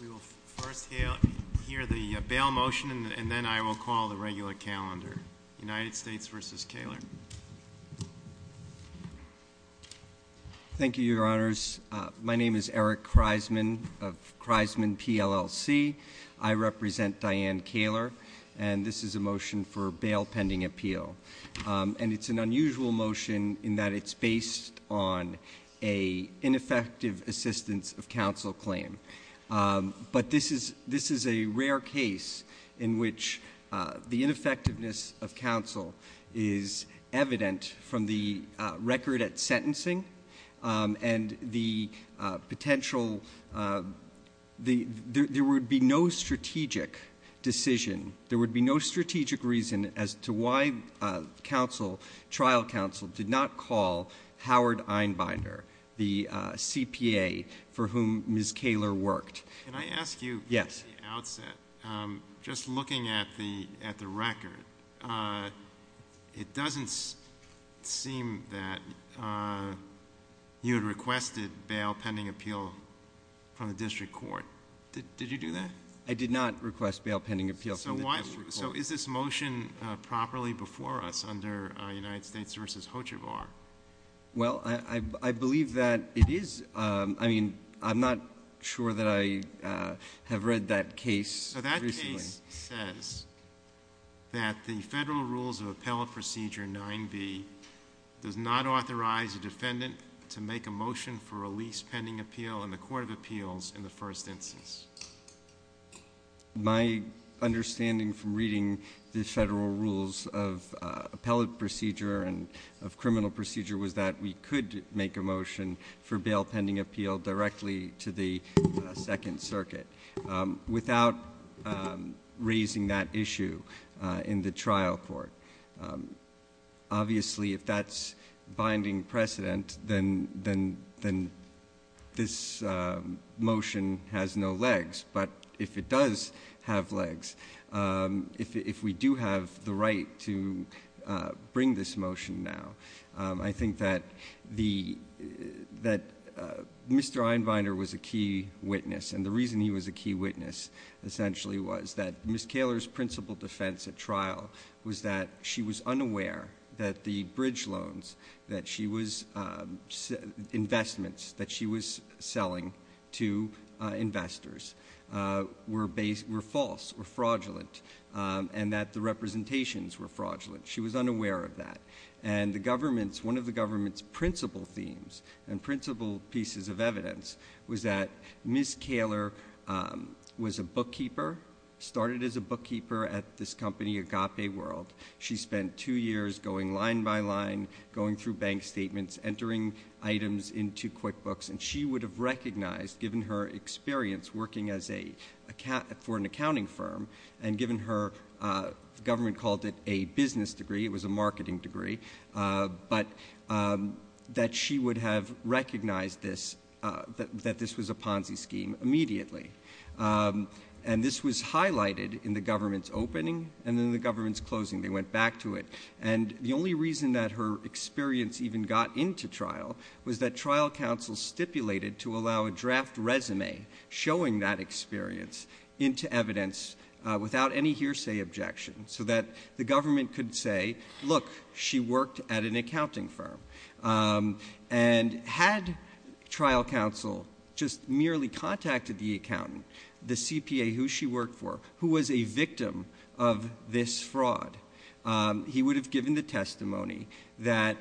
We will first hear the bail motion and then I will call the regular calendar. United States v. Kaler. Thank you, Your Honors. My name is Eric Kreisman of Kreisman PLLC. I represent Diane Kaler, and this is a motion for bail pending appeal. And it's an unusual motion in that it's based on an ineffective assistance of counsel claim. But this is a rare case in which the ineffectiveness of counsel is evident from the record at sentencing. And the potential, there would be no strategic decision, there would be no strategic reason as to why trial counsel did not call Howard Einbinder, the CPA for whom Ms. Kaler worked. Can I ask you at the outset, just looking at the record, it doesn't seem that you had requested bail pending appeal from the district court. Did you do that? I did not request bail pending appeal from the district court. So is this motion properly before us under United States v. Hochevar? Well, I believe that it is. I mean, I'm not sure that I have read that case. So that case says that the federal rules of appellate procedure 9b does not authorize a defendant to make a motion for a lease pending appeal in the court of appeals in the first instance. My understanding from reading the federal rules of appellate procedure and of criminal procedure was that we could make a motion for bail pending appeal directly to the Second Circuit without raising that issue in the trial court. Obviously, if that's binding precedent, then this motion has no legs. But if it does have legs, if we do have the right to bring this motion now, I think that Mr. Einbinder was a key witness. And the reason he was a key witness essentially was that Ms. Kaler's principal defense at trial was that she was unaware that the bridge loans, investments that she was selling to investors were false or fraudulent, and that the representations were fraudulent. She was unaware of that. And one of the government's principal themes and principal pieces of evidence was that Ms. Kaler was a bookkeeper, started as a bookkeeper at this company, Agape World. She spent two years going line by line, going through bank statements, entering items into QuickBooks. And she would have recognized, given her experience working for an accounting firm, and given her, the government called it a business degree, it was a marketing degree. But that she would have recognized this, that this was a Ponzi scheme immediately. And this was highlighted in the government's opening and in the government's closing. They went back to it. And the only reason that her experience even got into trial was that trial counsel stipulated to allow a draft resume showing that experience into evidence without any hearsay objection. So that the government could say, look, she worked at an accounting firm. And had trial counsel just merely contacted the accountant, the CPA who she worked for, who was a victim of this fraud, he would have given the testimony that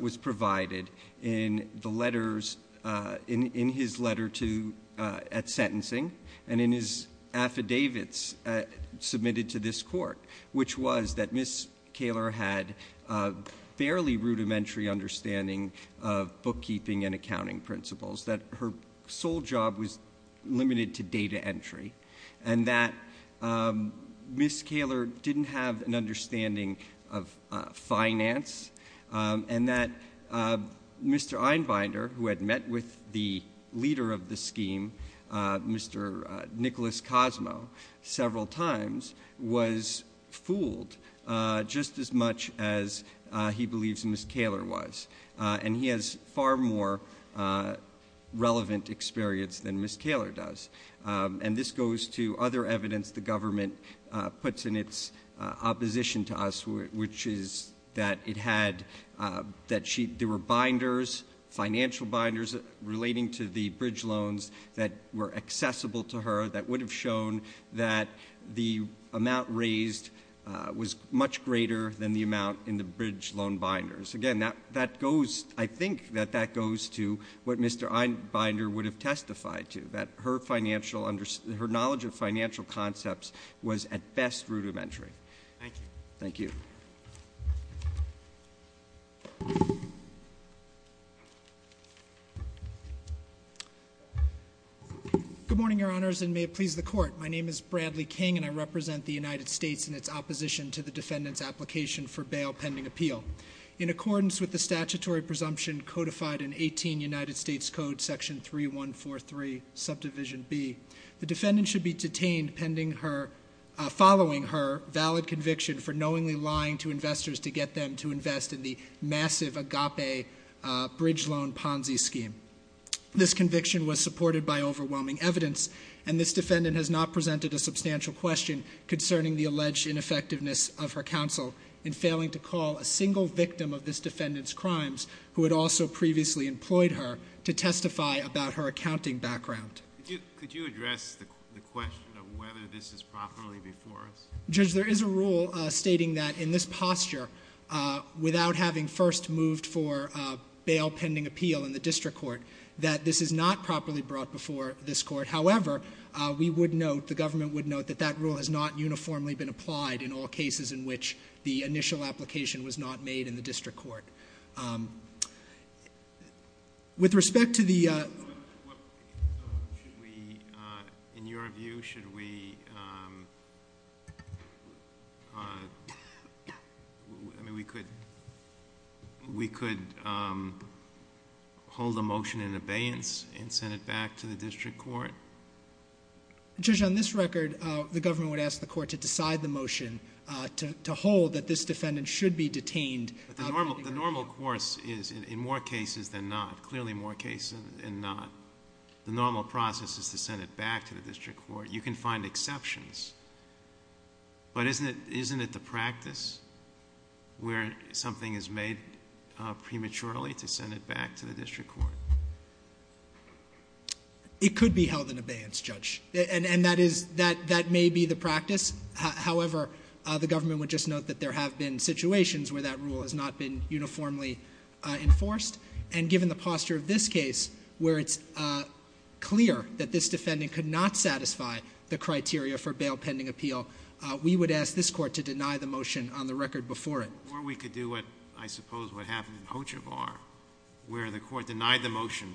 was provided in the letters, in his letter at sentencing, and in his affidavits submitted to this court. Which was that Ms. Kaler had a barely rudimentary understanding of bookkeeping and accounting principles, that her sole job was limited to data entry. And that Ms. Kaler didn't have an understanding of finance. And that Mr. Einbinder, who had met with the leader of the scheme, Mr. Nicholas Cosmo, several times, was fooled just as much as he believes Ms. Kaler was. And he has far more relevant experience than Ms. Kaler does. And this goes to other evidence the government puts in its opposition to us. Which is that there were binders, financial binders, relating to the bridge loans that were accessible to her. That would have shown that the amount raised was much greater than the amount in the bridge loan binders. Again, I think that that goes to what Mr. Einbinder would have testified to. That her knowledge of financial concepts was at best rudimentary. Thank you. Thank you. Good morning, your honors, and may it please the court. My name is Bradley King, and I represent the United States in its opposition to the defendant's application for bail pending appeal. In accordance with the statutory presumption codified in 18 United States Code section 3143 subdivision B, the defendant should be detained following her valid conviction for knowingly lying to investors to get them to invest in the massive agape bridge loan Ponzi scheme. This conviction was supported by overwhelming evidence, and this defendant has not presented a substantial question concerning the alleged ineffectiveness of her counsel in failing to call a single victim of this defendant's crimes, who had also previously employed her, to testify about her accounting background. Could you address the question of whether this is properly before us? Judge, there is a rule stating that in this posture, without having first moved for bail pending appeal in the district court, that this is not properly brought before this court. However, we would note, the government would note, that that rule has not uniformly been applied in all cases in which the initial application was not made in the district court. With respect to the- In your view, should we- I mean, we could hold a motion in abeyance and send it back to the district court? Judge, on this record, the government would ask the court to decide the motion to hold that this defendant should be detained- The normal course is in more cases than not, clearly more cases than not. The normal process is to send it back to the district court. You can find exceptions. But isn't it the practice where something is made prematurely to send it back to the district court? It could be held in abeyance, Judge. And that may be the practice. However, the government would just note that there have been situations where that rule has not been uniformly enforced. And given the posture of this case, where it's clear that this defendant could not satisfy the criteria for bail pending appeal, we would ask this court to deny the motion on the record before it. Or we could do what, I suppose, what happened in Hoja Bar, where the court denied the motion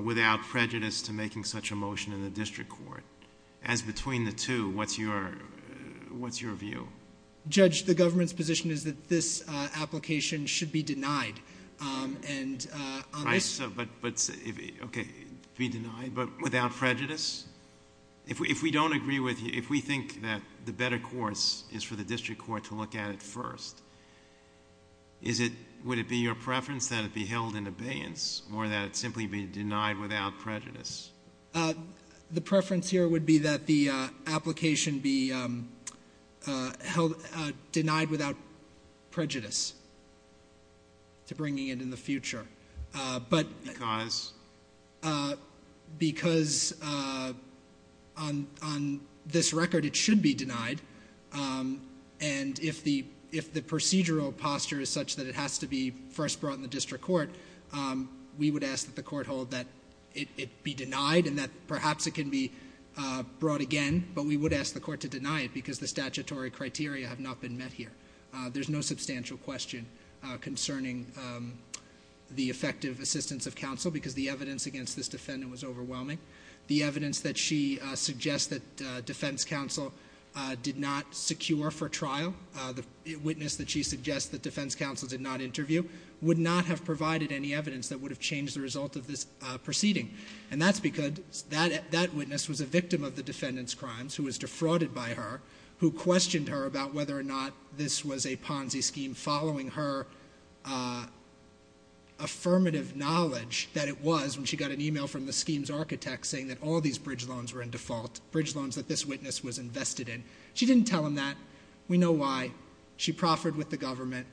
without prejudice to making such a motion in the district court. As between the two, what's your view? Judge, the government's position is that this application should be denied. Right, but, okay, be denied but without prejudice? If we don't agree with you, if we think that the better course is for the district court to look at it first, would it be your preference that it be held in abeyance or that it simply be denied without prejudice? The preference here would be that the application be denied without prejudice. To bringing it in the future. Because? Because on this record, it should be denied. And if the procedural posture is such that it has to be first brought in the district court, we would ask that the court hold that it be denied and that perhaps it can be brought again. But we would ask the court to deny it because the statutory criteria have not been met here. There's no substantial question concerning the effective assistance of counsel because the evidence against this defendant was overwhelming. The evidence that she suggests that defense counsel did not secure for trial, the witness that she suggests that defense counsel did not interview, would not have provided any evidence that would have changed the result of this proceeding. And that's because that witness was a victim of the defendant's crimes, who was defrauded by her, who questioned her about whether or not this was a Ponzi scheme, following her affirmative knowledge that it was when she got an email from the scheme's architect saying that all these bridge loans were in default, bridge loans that this witness was invested in. She didn't tell him that. We know why. She proffered with the government.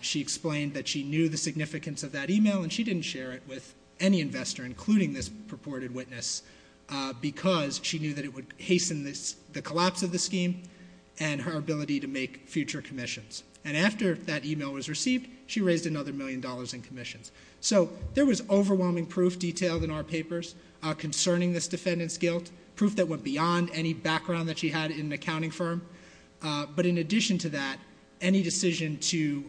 She explained that she knew the significance of that email, and she didn't share it with any investor, including this purported witness, because she knew that it would hasten the collapse of the scheme and her ability to make future commissions. And after that email was received, she raised another million dollars in commissions. So there was overwhelming proof detailed in our papers concerning this defendant's guilt, proof that went beyond any background that she had in an accounting firm. But in addition to that, any decision to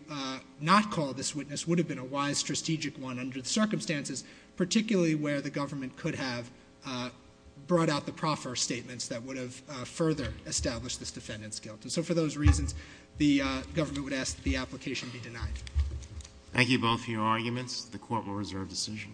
not call this witness would have been a wise, under the circumstances, particularly where the government could have brought out the proffer statements that would have further established this defendant's guilt. And so for those reasons, the government would ask that the application be denied. Thank you both for your arguments. The court will reserve decision.